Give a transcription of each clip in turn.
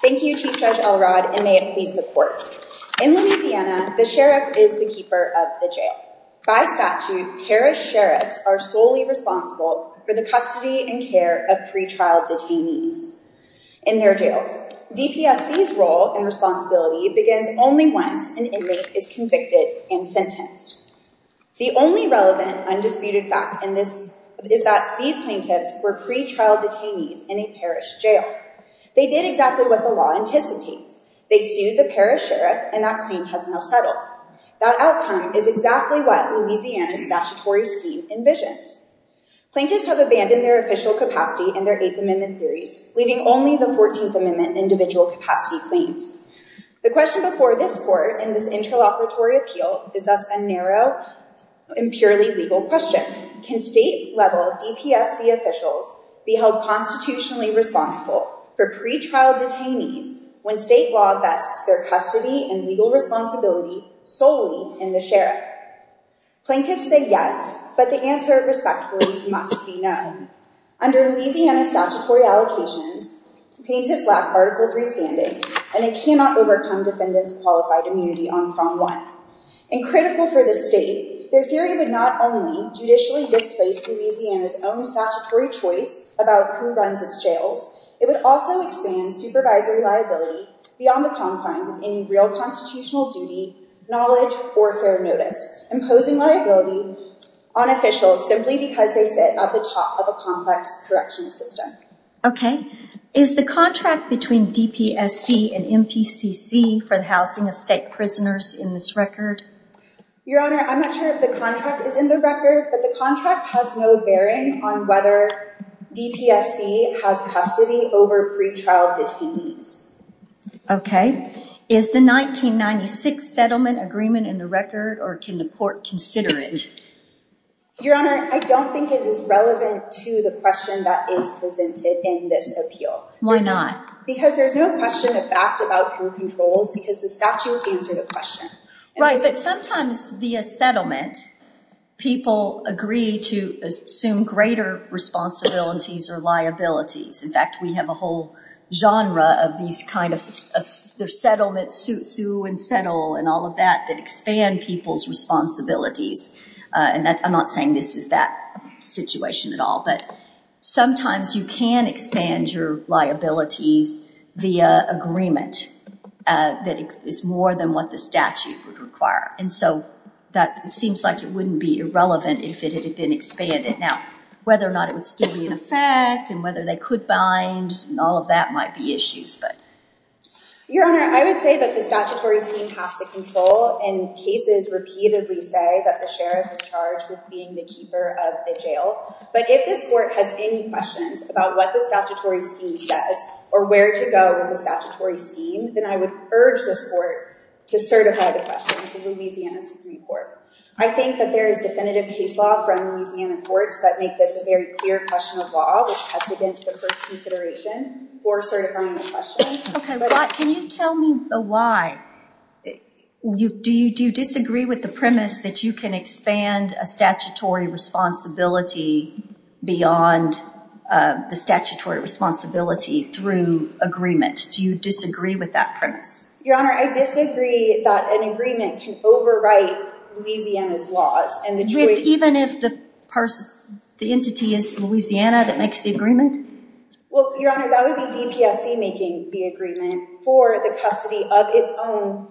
Thank you, Chief Judge Elrod, and may it please the court. In Louisiana, the sheriff is the keeper of the jail. By statute, parish sheriffs are solely responsible for the custody and care of pre-trial detainees in their jails. DPSC's role and responsibility begins only once an inmate is convicted and sentenced. The only relevant undisputed fact is that these plaintiffs were pre-trial detainees in a parish jail. They did exactly what the law anticipates. They sued the parish sheriff, and that claim has now settled. That outcome is exactly what Louisiana's statutory scheme envisions. Plaintiffs have abandoned their official capacity in their Eighth Amendment theories, leaving only the Fourteenth Amendment individual capacity claims. The question before this court in this interlocutory appeal is thus a narrow and purely legal question. Can state-level DPSC officials be held constitutionally responsible for pre-trial detainees when state law vests their custody and legal responsibility solely in the sheriff? Plaintiffs say yes, but the answer, respectfully, must be no. Under Louisiana's statutory allocations, plaintiffs lack Article III standing, and they cannot overcome defendants' qualified immunity on Prong 1. In critical for this state, their theory would not only judicially displace Louisiana's own statutory choice about who runs its jails, it would also expand supervisory liability beyond the confines of any real constitutional duty, knowledge, or fair notice, imposing liability on officials simply because they sit at the top of a complex corrections system. Okay. Is the contract between DPSC and MPCC for the housing of state prisoners in this record? Your Honor, I'm not sure if the contract is in the record, but the contract has no bearing on whether DPSC has custody over pre-trial detainees. Okay. Is the 1996 settlement agreement in the record, or can the court consider it? Your Honor, I don't think it is relevant to the question that is presented in this appeal. Why not? Because there's no question of fact about who controls, because the statutes answer the question. Right, but sometimes via settlement, people agree to assume greater responsibilities or liabilities. In fact, we have a whole genre of these kind of settlements, sue and settle, and all of that, that expand people's responsibilities. And I'm not saying this is that situation at all, but sometimes you can expand your liabilities via agreement that is more than what the statute would require. And so that seems like it wouldn't be irrelevant if it had been expanded. Now, whether or not it would still be in effect, and whether they could bind, and all of that might be issues. Your Honor, I would say that the statutory scheme has to control, and cases repeatedly say that the sheriff is charged with being the keeper of the jail. But if this court has any questions about what the statutory scheme says or where to go with the statutory scheme, then I would urge this court to certify the question to the Louisiana Supreme Court. I think that there is definitive case law from Louisiana courts that make this a very clear question of law, which cuts against the first consideration for certifying the question. Okay, can you tell me why? Do you disagree with the premise that you can expand a statutory responsibility beyond the statutory responsibility through agreement? Do you disagree with that premise? Your Honor, I disagree that an agreement can overwrite Louisiana's laws. Even if the entity is Louisiana that makes the agreement? Well, Your Honor, that would be DPSC making the agreement for the custody of its own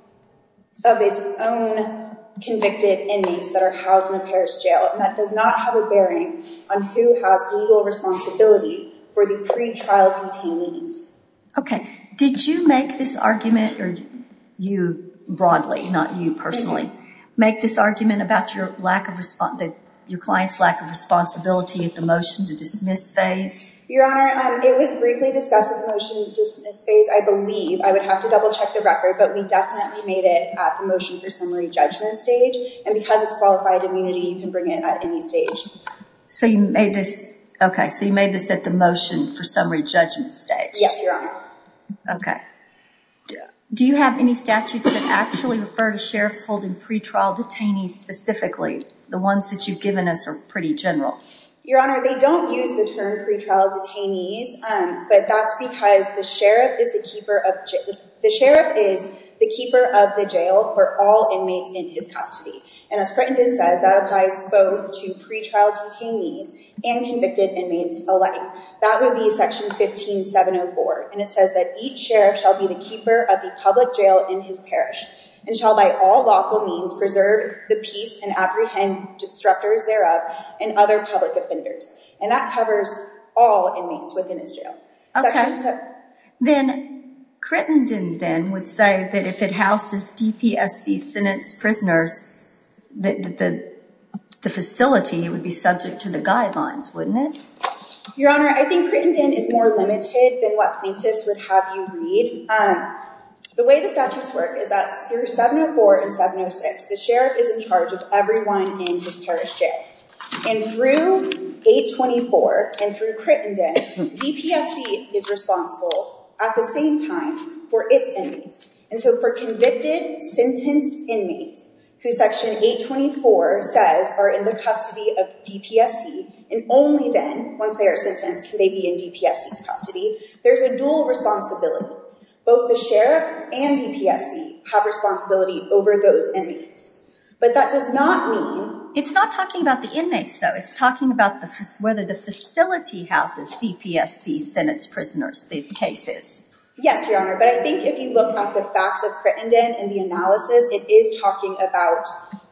convicted inmates that are housed in a parish jail. And that does not have a bearing on who has legal responsibility for the pretrial detainees. Okay, did you make this argument, or you broadly, not you personally, make this argument about your client's lack of responsibility at the motion to dismiss phase? Your Honor, it was briefly discussed at the motion to dismiss phase, I believe. I would have to double check the record, but we definitely made it at the motion for summary judgment stage. And because it's qualified immunity, you can bring it at any stage. So you made this at the motion for summary judgment stage? Yes, Your Honor. Okay. Do you have any statutes that actually refer to sheriffs holding pretrial detainees specifically? The ones that you've given us are pretty general. Your Honor, they don't use the term pretrial detainees, but that's because the sheriff is the keeper of the jail for all inmates in his custody. And as Frettington says, that applies both to pretrial detainees and convicted inmates alike. That would be section 15704, and it says that each sheriff shall be the keeper of the public jail in his parish and shall by all lawful means preserve the peace and apprehend disruptors thereof and other public offenders. And that covers all inmates within his jail. Okay. Then Frettington then would say that if it houses DPSC sentence prisoners, the facility would be subject to the guidelines, wouldn't it? Your Honor, I think Frettington is more limited than what plaintiffs would have you read. The way the statutes work is that through 704 and 706, the sheriff is in charge of everyone in his parish jail. And through 824 and through Frettington, DPSC is responsible at the same time for its inmates. And so for convicted, sentenced inmates, who section 824 says are in the custody of DPSC, and only then, once they are sentenced, can they be in DPSC's custody, there's a dual responsibility. Both the sheriff and DPSC have responsibility over those inmates. But that does not mean— It's not talking about the inmates, though. It's talking about whether the facility houses DPSC sentence prisoners, the cases. Yes, Your Honor, but I think if you look at the facts of Frettington and the analysis, it is talking about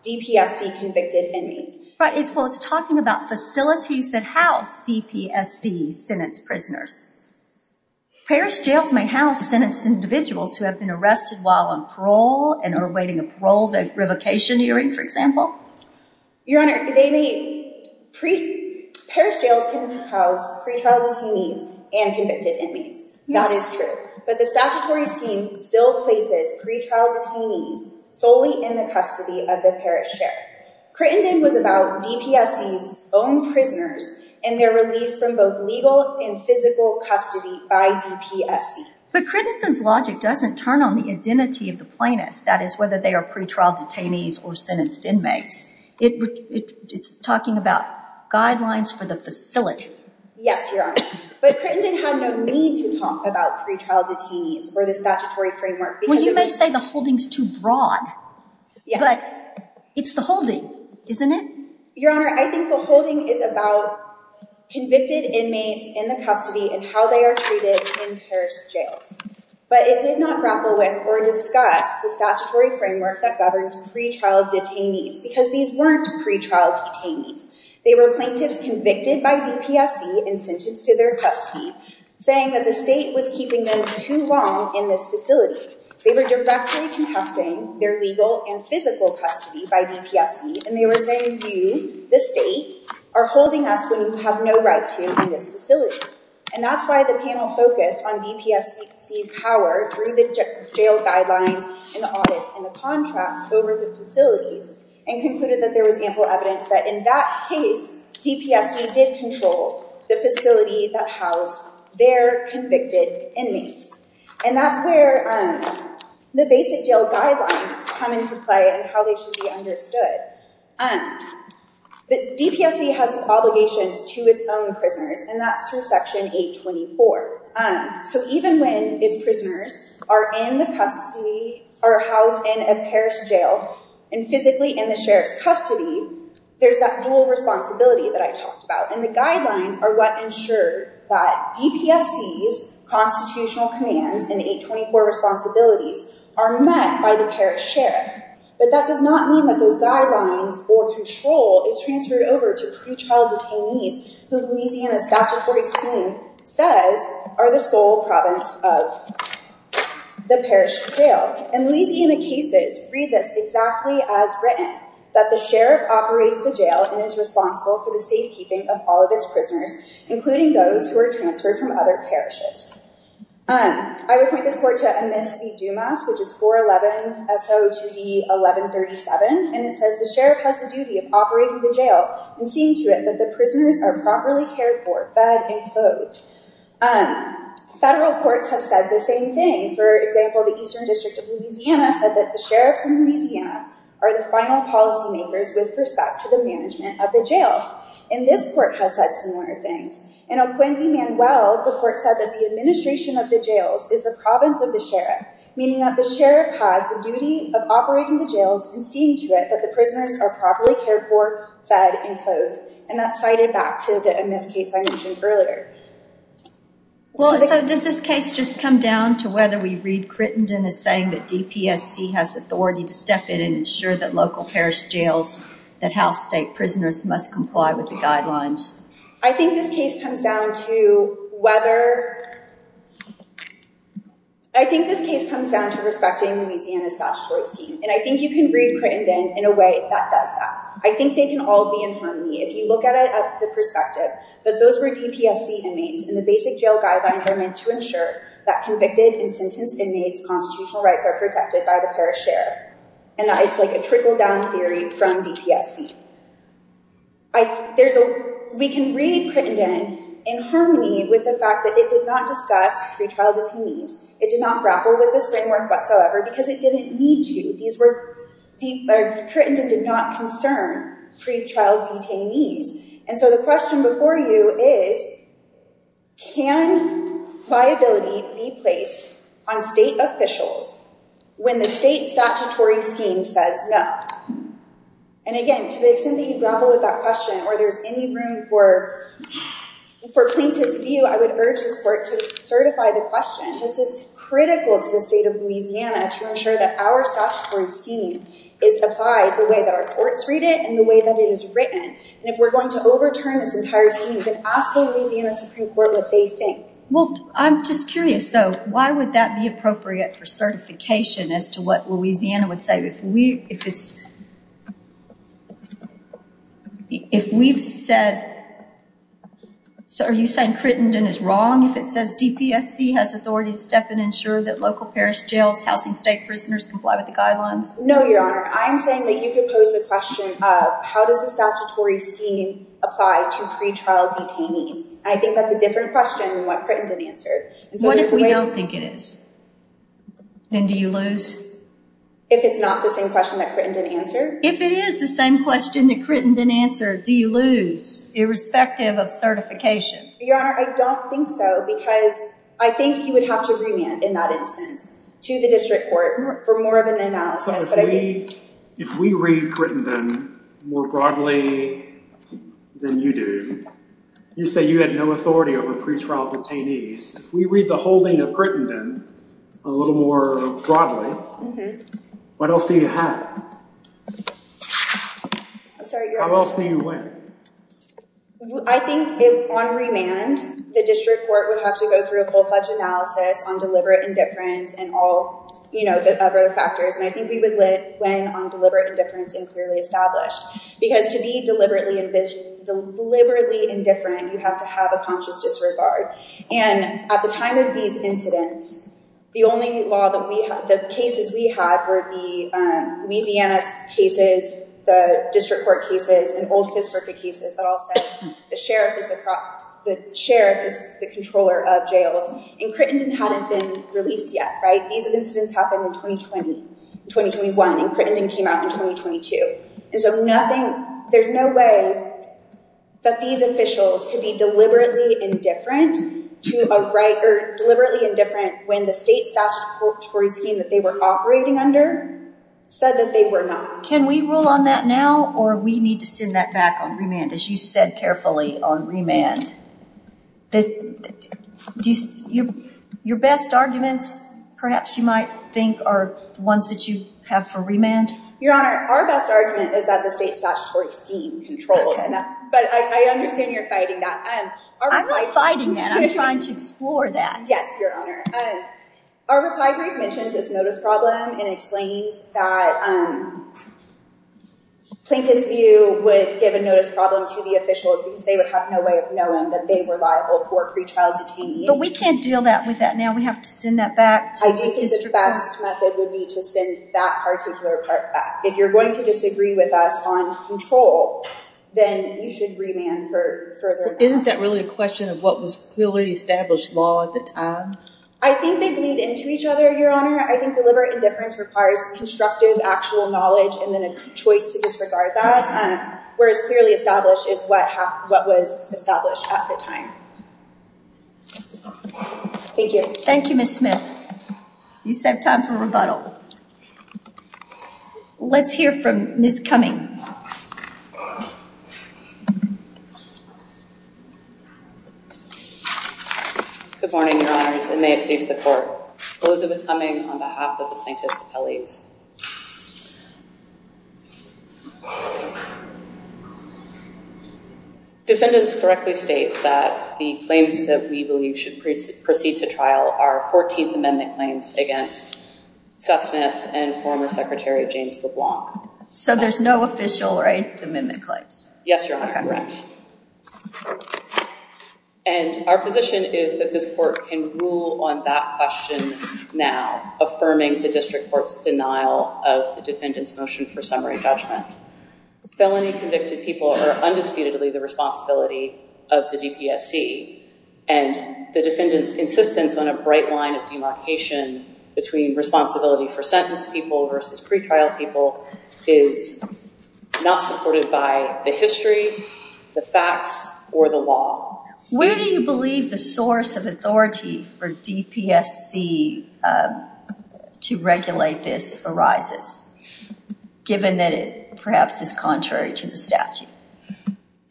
DPSC convicted inmates. Right, well, it's talking about facilities that house DPSC sentence prisoners. Parish jails may house sentenced individuals who have been arrested while on parole and are awaiting a parole revocation hearing, for example. Your Honor, they may—parish jails can house pretrial detainees and convicted inmates. That is true. But the statutory scheme still places pretrial detainees solely in the custody of the parish sheriff. Frettington was about DPSC's own prisoners and their release from both legal and physical custody by DPSC. But Frettington's logic doesn't turn on the identity of the plaintiffs, that is, whether they are pretrial detainees or sentenced inmates. It's talking about guidelines for the facility. Yes, Your Honor, but Frettington had no need to talk about pretrial detainees or the statutory framework— Well, you may say the holding's too broad, but it's the holding, isn't it? Your Honor, I think the holding is about convicted inmates in the custody and how they are treated in parish jails. But it did not grapple with or discuss the statutory framework that governs pretrial detainees because these weren't pretrial detainees. They were plaintiffs convicted by DPSC and sentenced to their custody, saying that the state was keeping them too long in this facility. They were directly contesting their legal and physical custody by DPSC, and they were saying, you, the state, are holding us when you have no right to in this facility. And that's why the panel focused on DPSC's power through the jail guidelines and audits and the contracts over the facilities and concluded that there was ample evidence that in that case, DPSC did control the facility that housed their convicted inmates. And that's where the basic jail guidelines come into play and how they should be understood. DPSC has its obligations to its own prisoners, and that's through Section 824. So even when its prisoners are housed in a parish jail and physically in the sheriff's custody, there's that dual responsibility that I talked about, and the guidelines are what ensure that DPSC's constitutional commands and 824 responsibilities are met by the parish sheriff. But that does not mean that those guidelines or control is transferred over to pretrial detainees. Detainees, the Louisiana statutory scheme says, are the sole province of the parish jail. And Louisiana cases read this exactly as written, that the sheriff operates the jail and is responsible for the safekeeping of all of its prisoners, including those who are transferred from other parishes. I would point this court to Amiss v. Dumas, which is 411-SO2D-1137, and it says the sheriff has the duty of operating the jail and seeing to it that the prisoners are properly cared for, fed, and clothed. Federal courts have said the same thing. For example, the Eastern District of Louisiana said that the sheriffs in Louisiana are the final policymakers with respect to the management of the jail. And this court has said similar things. In O'Quindy v. Manuel, the court said that the administration of the jails is the province of the sheriff, meaning that the sheriff has the duty of operating the jails and seeing to it that the prisoners are properly cared for, fed, and clothed. And that's cited back to the Amiss case I mentioned earlier. Well, so does this case just come down to whether we read Crittenden as saying that DPSC has authority to step in and ensure that local parish jails, that house state prisoners must comply with the guidelines? I think this case comes down to whether—I think this case comes down to respecting Louisiana's statutory scheme, and I think you can read Crittenden in a way that does that. I think they can all be in harmony if you look at it at the perspective that those were DPSC inmates, and the basic jail guidelines are meant to ensure that convicted and sentenced inmates' constitutional rights are protected by the parish sheriff, and that it's like a trickle-down theory from DPSC. We can read Crittenden in harmony with the fact that it did not discuss pre-trial detainees. It did not grapple with this framework whatsoever because it didn't need to. Crittenden did not concern pre-trial detainees. And so the question before you is, can viability be placed on state officials when the state statutory scheme says no? And again, to the extent that you grapple with that question or there's any room for plaintiff's view, I would urge this court to certify the question. This is critical to the state of Louisiana to ensure that our statutory scheme is applied the way that our courts read it and the way that it is written. And if we're going to overturn this entire scheme, you can ask the Louisiana Supreme Court what they think. Well, I'm just curious, though. Why would that be appropriate for certification as to what Louisiana would say? If we've said – are you saying Crittenden is wrong if it says DPSC has authority to step in and ensure that local, parish, jails, housing, state prisoners comply with the guidelines? No, Your Honor. I'm saying that you could pose the question, how does the statutory scheme apply to pre-trial detainees? I think that's a different question than what Crittenden answered. What if we don't think it is? Then do you lose? If it's not the same question that Crittenden answered? If it is the same question that Crittenden answered, do you lose irrespective of certification? Your Honor, I don't think so because I think you would have to remand in that instance to the district court for more of an analysis. If we read Crittenden more broadly than you do, you say you had no authority over pre-trial detainees. If we read the holding of Crittenden a little more broadly, what else do you have? How else do you win? I think on remand, the district court would have to go through a full-fledged analysis on deliberate indifference and all the other factors. I think we would win on deliberate indifference and clearly established. Because to be deliberately indifferent, you have to have a conscious disregard. At the time of these incidents, the cases we had were the Louisiana cases, the district court cases, and old Fifth Circuit cases that all said the sheriff is the controller of jails. Crittenden hadn't been released yet. These incidents happened in 2020, 2021, and Crittenden came out in 2022. There's no way that these officials could be deliberately indifferent when the state statutory scheme that they were operating under said that they were not. Can we rule on that now or we need to send that back on remand as you said carefully on remand? Your best arguments perhaps you might think are ones that you have for remand. Your Honor, our best argument is that the state statutory scheme controls. But I understand you're fighting that. I'm not fighting that. I'm trying to explore that. Yes, Your Honor. Our reply brief mentions this notice problem and explains that plaintiff's view would give a notice problem to the officials because they would have no way of knowing that they were liable for pretrial detainees. But we can't deal with that now. We have to send that back to the district court. I think the best method would be to send that particular part back. If you're going to disagree with us on control, then you should remand for further analysis. Isn't that really a question of what was clearly established law at the time? I think they bleed into each other, Your Honor. I think deliberate indifference requires constructive actual knowledge and then a choice to disregard that. Whereas clearly established is what was established at the time. Thank you. Thank you, Ms. Smith. You still have time for rebuttal. Let's hear from Ms. Cumming. Good morning, Your Honors, and may it please the Court. Elizabeth Cumming on behalf of the plaintiffs' alleges. Defendants correctly state that the claims that we believe should proceed to trial are 14th Amendment claims against Seth Smith and former Secretary James LeBlanc. So there's no official right to amendment claims? Yes, Your Honor. Correct. And our position is that this Court can rule on that question now, affirming the district court's denial of the defendant's motion for summary judgment. Felony convicted people are undisputedly the responsibility of the DPSC. And the defendant's insistence on a bright line of demarcation between responsibility for sentenced people versus pretrial people is not supported by the history, the facts, or the law. Where do you believe the source of authority for DPSC to regulate this arises, given that it perhaps is contrary to the statute?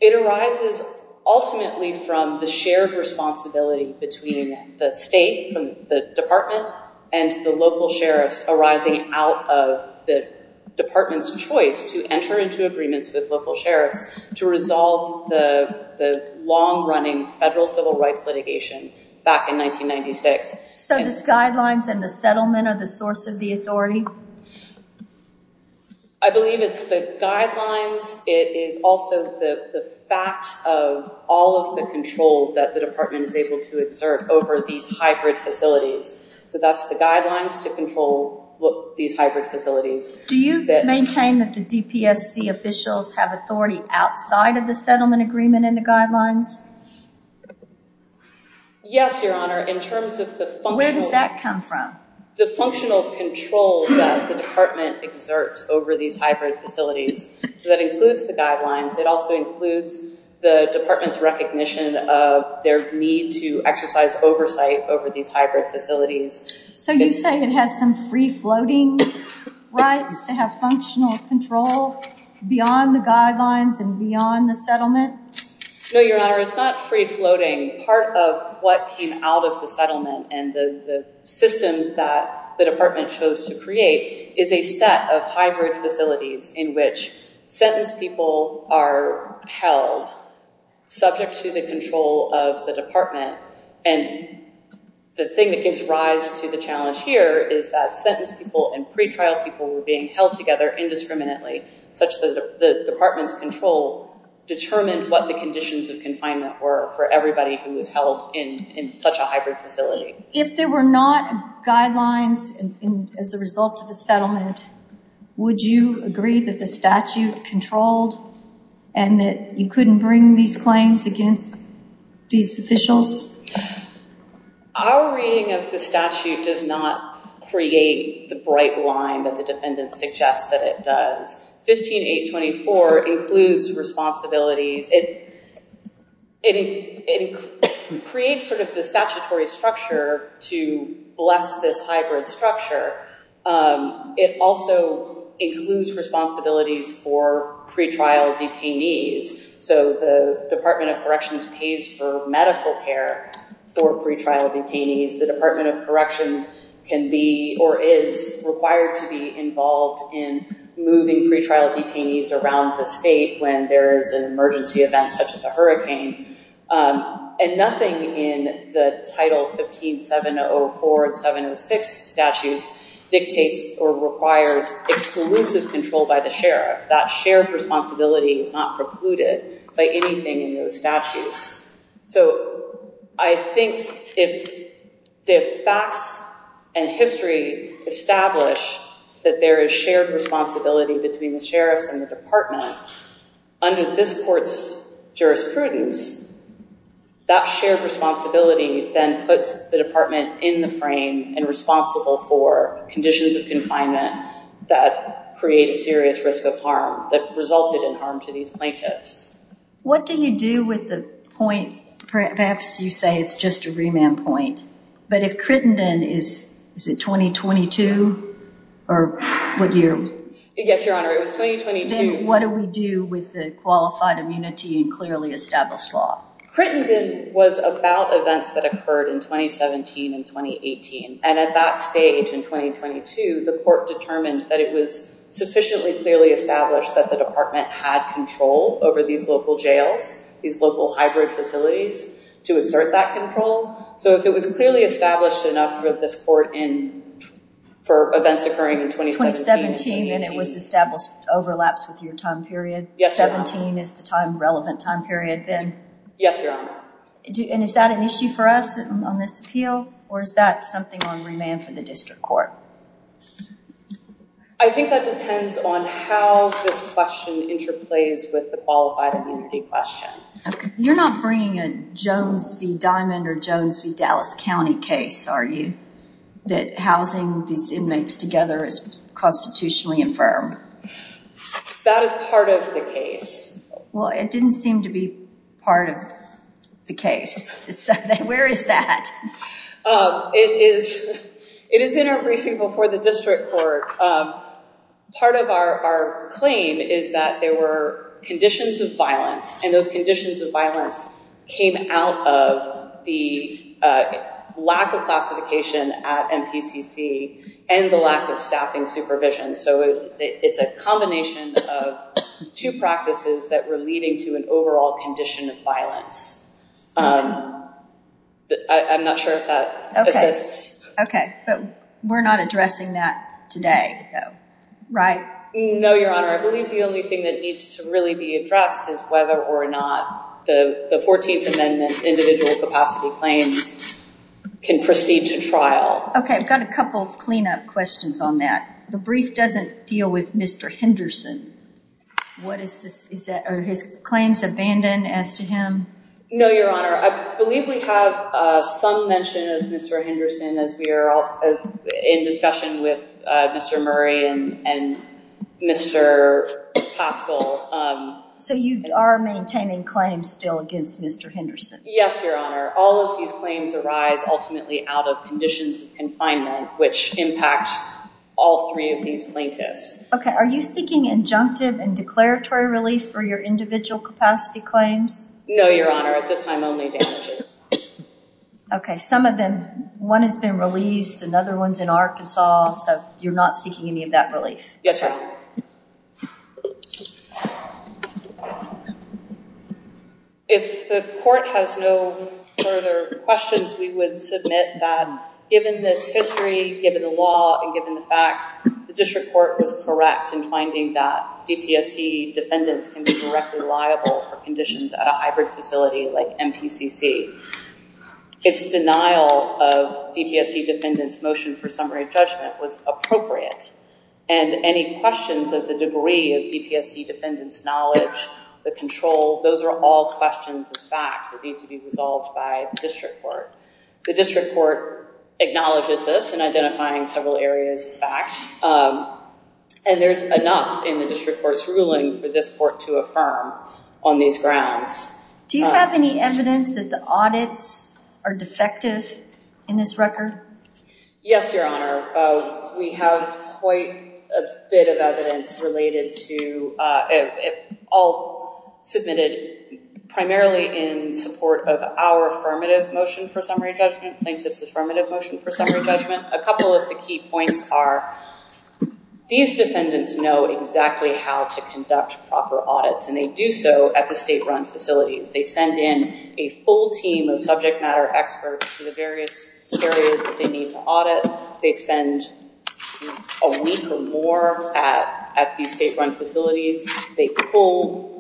It arises ultimately from the shared responsibility between the state, the department, and the local sheriffs arising out of the department's choice to enter into agreements with local sheriffs to resolve the long-running federal civil rights litigation back in 1996. So this guidelines and the settlement are the source of the authority? I believe it's the guidelines. It is also the fact of all of the control that the department is able to exert over these hybrid facilities. So that's the guidelines to control these hybrid facilities. Do you maintain that the DPSC officials have authority outside of the settlement agreement and the guidelines? Yes, Your Honor. In terms of the functional... Where does that come from? The functional control that the department exerts over these hybrid facilities. So that includes the guidelines. It also includes the department's recognition of their need to exercise oversight over these hybrid facilities. So you say it has some free-floating rights to have functional control beyond the guidelines and beyond the settlement? No, Your Honor. It's not free-floating. Part of what came out of the settlement and the system that the department chose to create is a set of hybrid facilities in which sentenced people are held subject to the control of the department. And the thing that gives rise to the challenge here is that sentenced people and pretrial people were being held together indiscriminately, such that the department's control determined what the conditions of confinement were for everybody who was held in such a hybrid facility. If there were not guidelines as a result of the settlement, would you agree that the statute controlled and that you couldn't bring these claims against these officials? Our reading of the statute does not create the bright line that the defendant suggests that it does. 15.824 includes responsibilities. It creates sort of the statutory structure to bless this hybrid structure. It also includes responsibilities for pretrial detainees. So the Department of Corrections pays for medical care for pretrial detainees. The Department of Corrections can be or is required to be involved in moving pretrial detainees around the state when there is an emergency event such as a hurricane. And nothing in the Title 15.704 and 706 statutes dictates or requires exclusive control by the sheriff. That shared responsibility is not precluded by anything in those statutes. So I think if the facts and history establish that there is shared responsibility between the sheriffs and the department, under this court's jurisprudence, that shared responsibility then puts the department in the frame and responsible for conditions of confinement that create a serious risk of harm that resulted in harm to these plaintiffs. What do you do with the point, perhaps you say it's just a remand point, but if Crittenden is, is it 2022 or what year? Yes, Your Honor, it was 2022. Then what do we do with the qualified immunity and clearly established law? Crittenden was about events that occurred in 2017 and 2018. And at that stage in 2022, the court determined that it was sufficiently clearly established that the department had control over these local jails, these local hybrid facilities to exert that control. So if it was clearly established enough for this court in, for events occurring in 2017 and 2018. 2017 and it was established overlaps with your time period. Yes, Your Honor. So 2017 is the time, relevant time period then? Yes, Your Honor. And is that an issue for us on this appeal or is that something on remand for the district court? I think that depends on how this question interplays with the qualified immunity question. Okay. You're not bringing a Jones v. Diamond or Jones v. Dallas County case, are you? That housing these inmates together is constitutionally infirm. That is part of the case. Well, it didn't seem to be part of the case. Where is that? It is in our briefing before the district court. Part of our claim is that there were conditions of violence and those conditions of violence came out of the lack of classification at MPCC and the lack of staffing supervision. So it's a combination of two practices that were leading to an overall condition of violence. I'm not sure if that. Okay. But we're not addressing that today though, right? No, Your Honor. I believe the only thing that needs to really be addressed is whether or not the 14th Amendment individual capacity claims can proceed to trial. Okay. I've got a couple of cleanup questions on that. The brief doesn't deal with Mr. Henderson. What is this? Are his claims abandoned as to him? No, Your Honor. I believe we have some mention of Mr. Henderson as we are also in discussion with Mr. Murray and Mr. Pascal. So you are maintaining claims still against Mr. Henderson? Yes, Your Honor. All of these claims arise ultimately out of conditions of confinement, which impact all three of these plaintiffs. Okay. Are you seeking injunctive and declaratory relief for your individual capacity claims? No, Your Honor. At this time, only damages. Okay. Some of them, one has been released. Another one's in Arkansas. So you're not seeking any of that relief? Yes, Your Honor. Okay. If the court has no further questions, we would submit that given this history, given the law, and given the facts, the district court was correct in finding that DPSC defendants can be directly liable for conditions at a hybrid facility like MPCC. Its denial of DPSC defendants' motion for summary judgment was appropriate. And any questions of the degree of DPSC defendants' knowledge, the control, those are all questions of fact that need to be resolved by the district court. The district court acknowledges this in identifying several areas of fact, and there's enough in the district court's ruling for this court to affirm on these grounds. Do you have any evidence that the audits are defective in this record? Yes, Your Honor. We have quite a bit of evidence related to, all submitted primarily in support of our affirmative motion for summary judgment, plaintiff's affirmative motion for summary judgment. A couple of the key points are these defendants know exactly how to conduct proper audits, and they do so at the state-run facilities. They send in a full team of subject matter experts to the various areas that they need to audit. They spend a week or more at the state-run facilities. They pull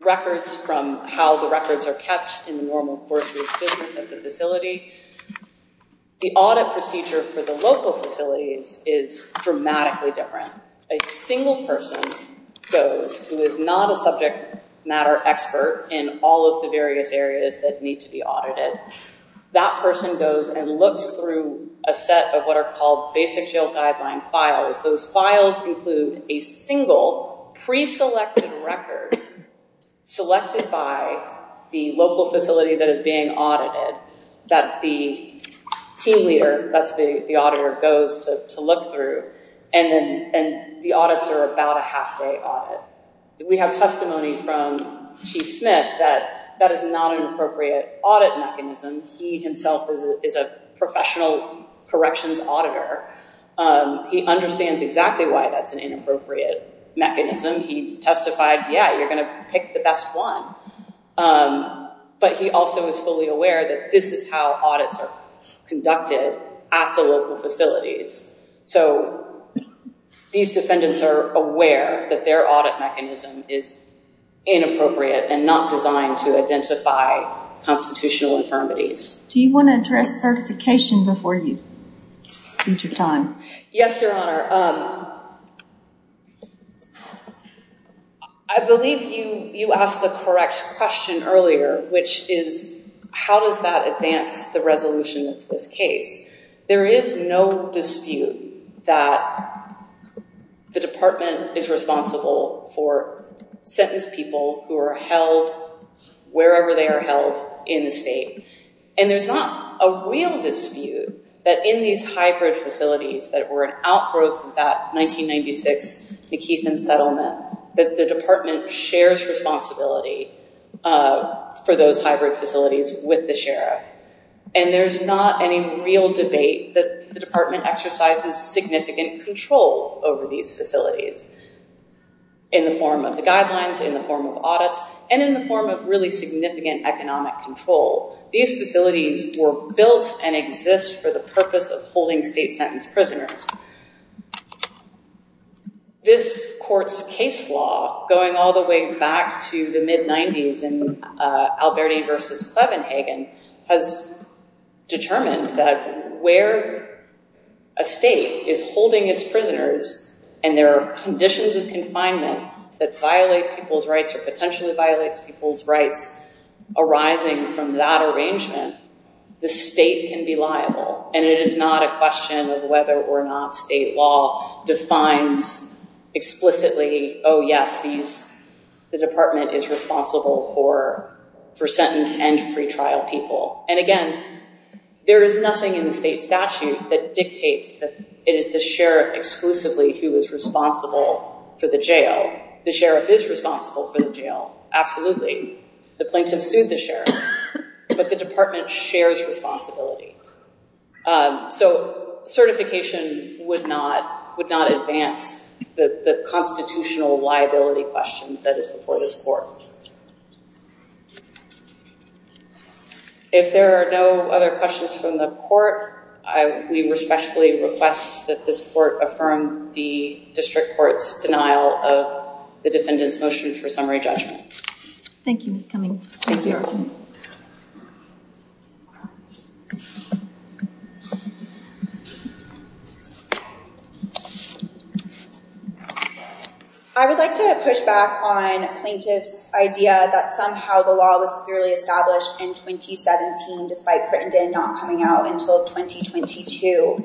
records from how the records are kept in the normal course of business at the facility. The audit procedure for the local facilities is dramatically different. A single person goes who is not a subject matter expert in all of the various areas that need to be audited. That person goes and looks through a set of what are called basic jail guideline files. Those files include a single pre-selected record selected by the local facility that is being audited that the team leader, that's the auditor, goes to look through. The audits are about a half-day audit. We have testimony from Chief Smith that that is not an appropriate audit mechanism. He himself is a professional corrections auditor. He understands exactly why that's an inappropriate mechanism. He testified, yeah, you're going to pick the best one, but he also is fully aware that this is how audits are conducted at the local facilities. These defendants are aware that their audit mechanism is inappropriate and not designed to identify constitutional infirmities. Do you want to address certification before you speak your time? Yes, Your Honor. I believe you asked the correct question earlier, which is how does that advance the resolution of this case? There is no dispute that the department is responsible for sentenced people who are held wherever they are held in the state. There's not a real dispute that in these hybrid facilities that were an outgrowth of that 1996 McKeithen settlement, that the department shares responsibility for those hybrid facilities with the sheriff. There's not any real debate that the department exercises significant control over these facilities in the form of the guidelines, in the form of audits, and in the form of really significant economic control. These facilities were built and exist for the purpose of holding state sentenced prisoners. This court's case law, going all the way back to the mid-90s in Alberti v. Clevenhagen, has determined that where a state is holding its prisoners and there are conditions of confinement that violate people's rights or potentially violates people's rights arising from that arrangement, the state can be liable. It is not a question of whether or not state law defines explicitly, oh yes, the department is responsible for sentenced and pretrial people. Again, there is nothing in the state statute that dictates that it is the sheriff exclusively who is responsible for the jail. The sheriff is responsible for the jail, absolutely. The plaintiff sued the sheriff, but the department shares responsibility. Certification would not advance the constitutional liability question that is before this court. If there are no other questions from the court, we respectfully request that this court affirm the district court's denial of the defendant's motion for summary judgment. Thank you, Ms. Cummings. Thank you. I would like to push back on plaintiff's idea that somehow the law was clearly established in 2017 despite Crittenden not coming out until 2022.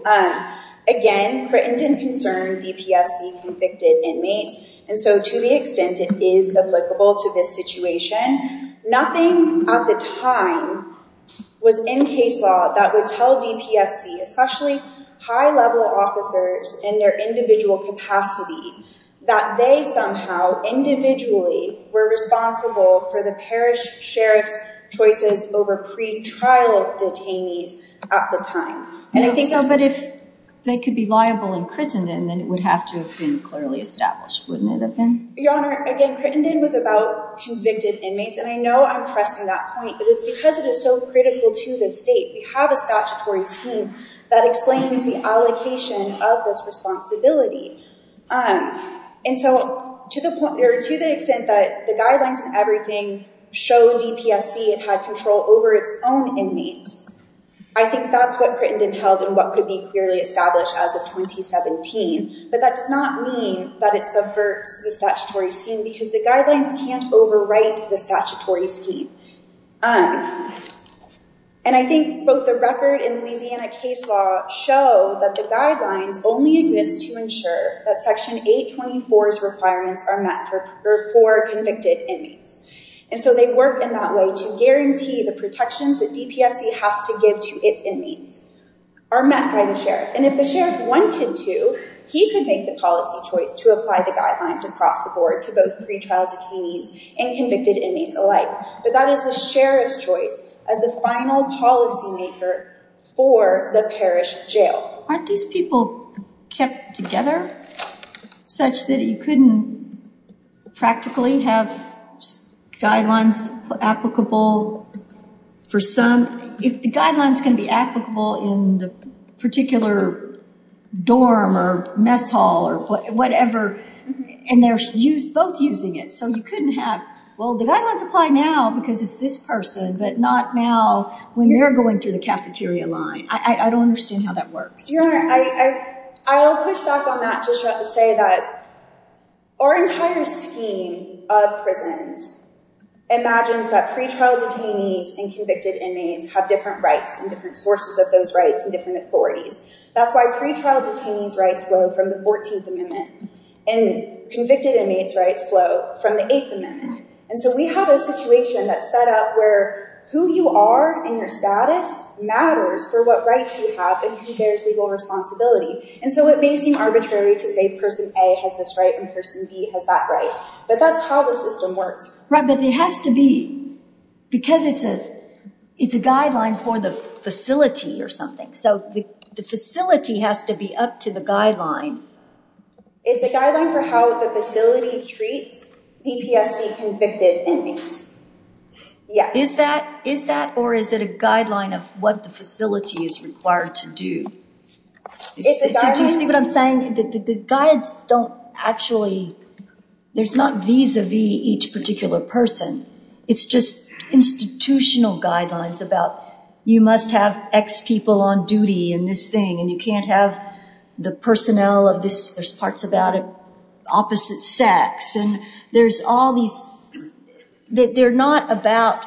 Again, Crittenden concerned DPSC convicted inmates, and so to the extent it is applicable to this situation, nothing at the time was in case law that would tell DPSC, especially high level officers in their individual capacity, that they somehow individually were responsible for the parish sheriff's choices over pretrial detainees at the time. But if they could be liable in Crittenden, then it would have to have been clearly established, wouldn't it have been? Your Honor, again, Crittenden was about convicted inmates, and I know I'm pressing that point, but it's because it is so critical to the state. We have a statutory scheme that explains the allocation of this responsibility. And so to the extent that the guidelines and everything show DPSC had control over its own inmates, I think that's what Crittenden held and what could be clearly established as of 2017. But that does not mean that it subverts the statutory scheme because the guidelines can't overwrite the statutory scheme. And I think both the record and Louisiana case law show that the guidelines only exist to ensure that Section 824's requirements are met for convicted inmates. And so they work in that way to guarantee the protections that DPSC has to give to its inmates are met by the sheriff. And if the sheriff wanted to, he could make the policy choice to apply the guidelines across the board to both pretrial detainees and convicted inmates alike. But that is the sheriff's choice as the final policymaker for the parish jail. Aren't these people kept together such that you couldn't practically have guidelines applicable for some... If the guidelines can be applicable in the particular dorm or mess hall or whatever, and they're both using it, so you couldn't have... Well, the guidelines apply now because it's this person, but not now when they're going through the cafeteria line. I don't understand how that works. I'll push back on that to say that our entire scheme of prisons imagines that pretrial detainees and convicted inmates have different rights and different sources of those rights and different authorities. That's why pretrial detainees' rights flow from the 14th Amendment and convicted inmates' rights flow from the 8th Amendment. And so we have a situation that's set up where who you are and your status matters for what rights you have and who bears legal responsibility. And so it may seem arbitrary to say person A has this right and person B has that right, but that's how the system works. Right, but it has to be because it's a guideline for the facility or something. So the facility has to be up to the guideline. It's a guideline for how the facility treats DPSC convicted inmates. Is that or is it a guideline of what the facility is required to do? Do you see what I'm saying? The guides don't actually, there's not vis-a-vis each particular person. It's just institutional guidelines about you must have X people on duty and this thing and you can't have the personnel of this. There's parts about opposite sex and there's all these, they're not about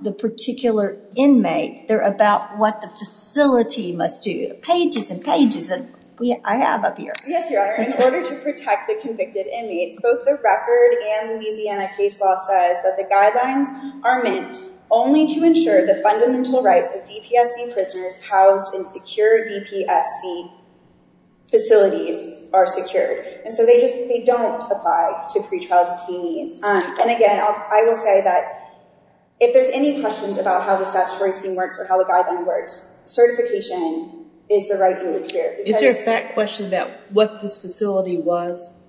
the particular inmate. They're about what the facility must do. Pages and pages. I have up here. Yes, Your Honor. In order to protect the convicted inmates, both the record and Louisiana case law says that the guidelines are meant only to ensure the fundamental rights of DPSC prisoners housed in secure DPSC facilities are secured. And so they don't apply to pretrial detainees. And again, I will say that if there's any questions about how the statutory scheme works or how the guideline works, certification is the right move here. Is there a fact question about what this facility was?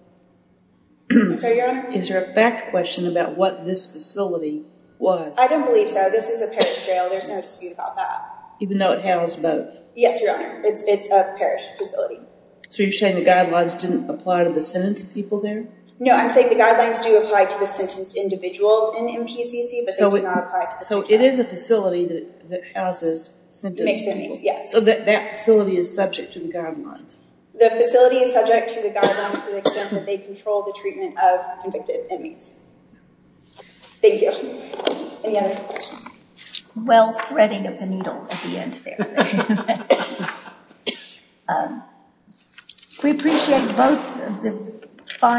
I'm sorry, Your Honor? Is there a fact question about what this facility was? I don't believe so. This is a parish jail. There's no dispute about that. Even though it housed both? Yes, Your Honor. It's a parish facility. So you're saying the guidelines didn't apply to the sentenced people there? No, I'm saying the guidelines do apply to the sentenced individuals in MPCC, but they do not apply to the convicted inmates. So it is a facility that houses sentenced inmates? So that facility is subject to the guidelines? The facility is subject to the guidelines to the extent that they control the treatment of convicted inmates. Thank you. Any other questions? Well, threading of the needle at the end there. Thank you, Your Honor.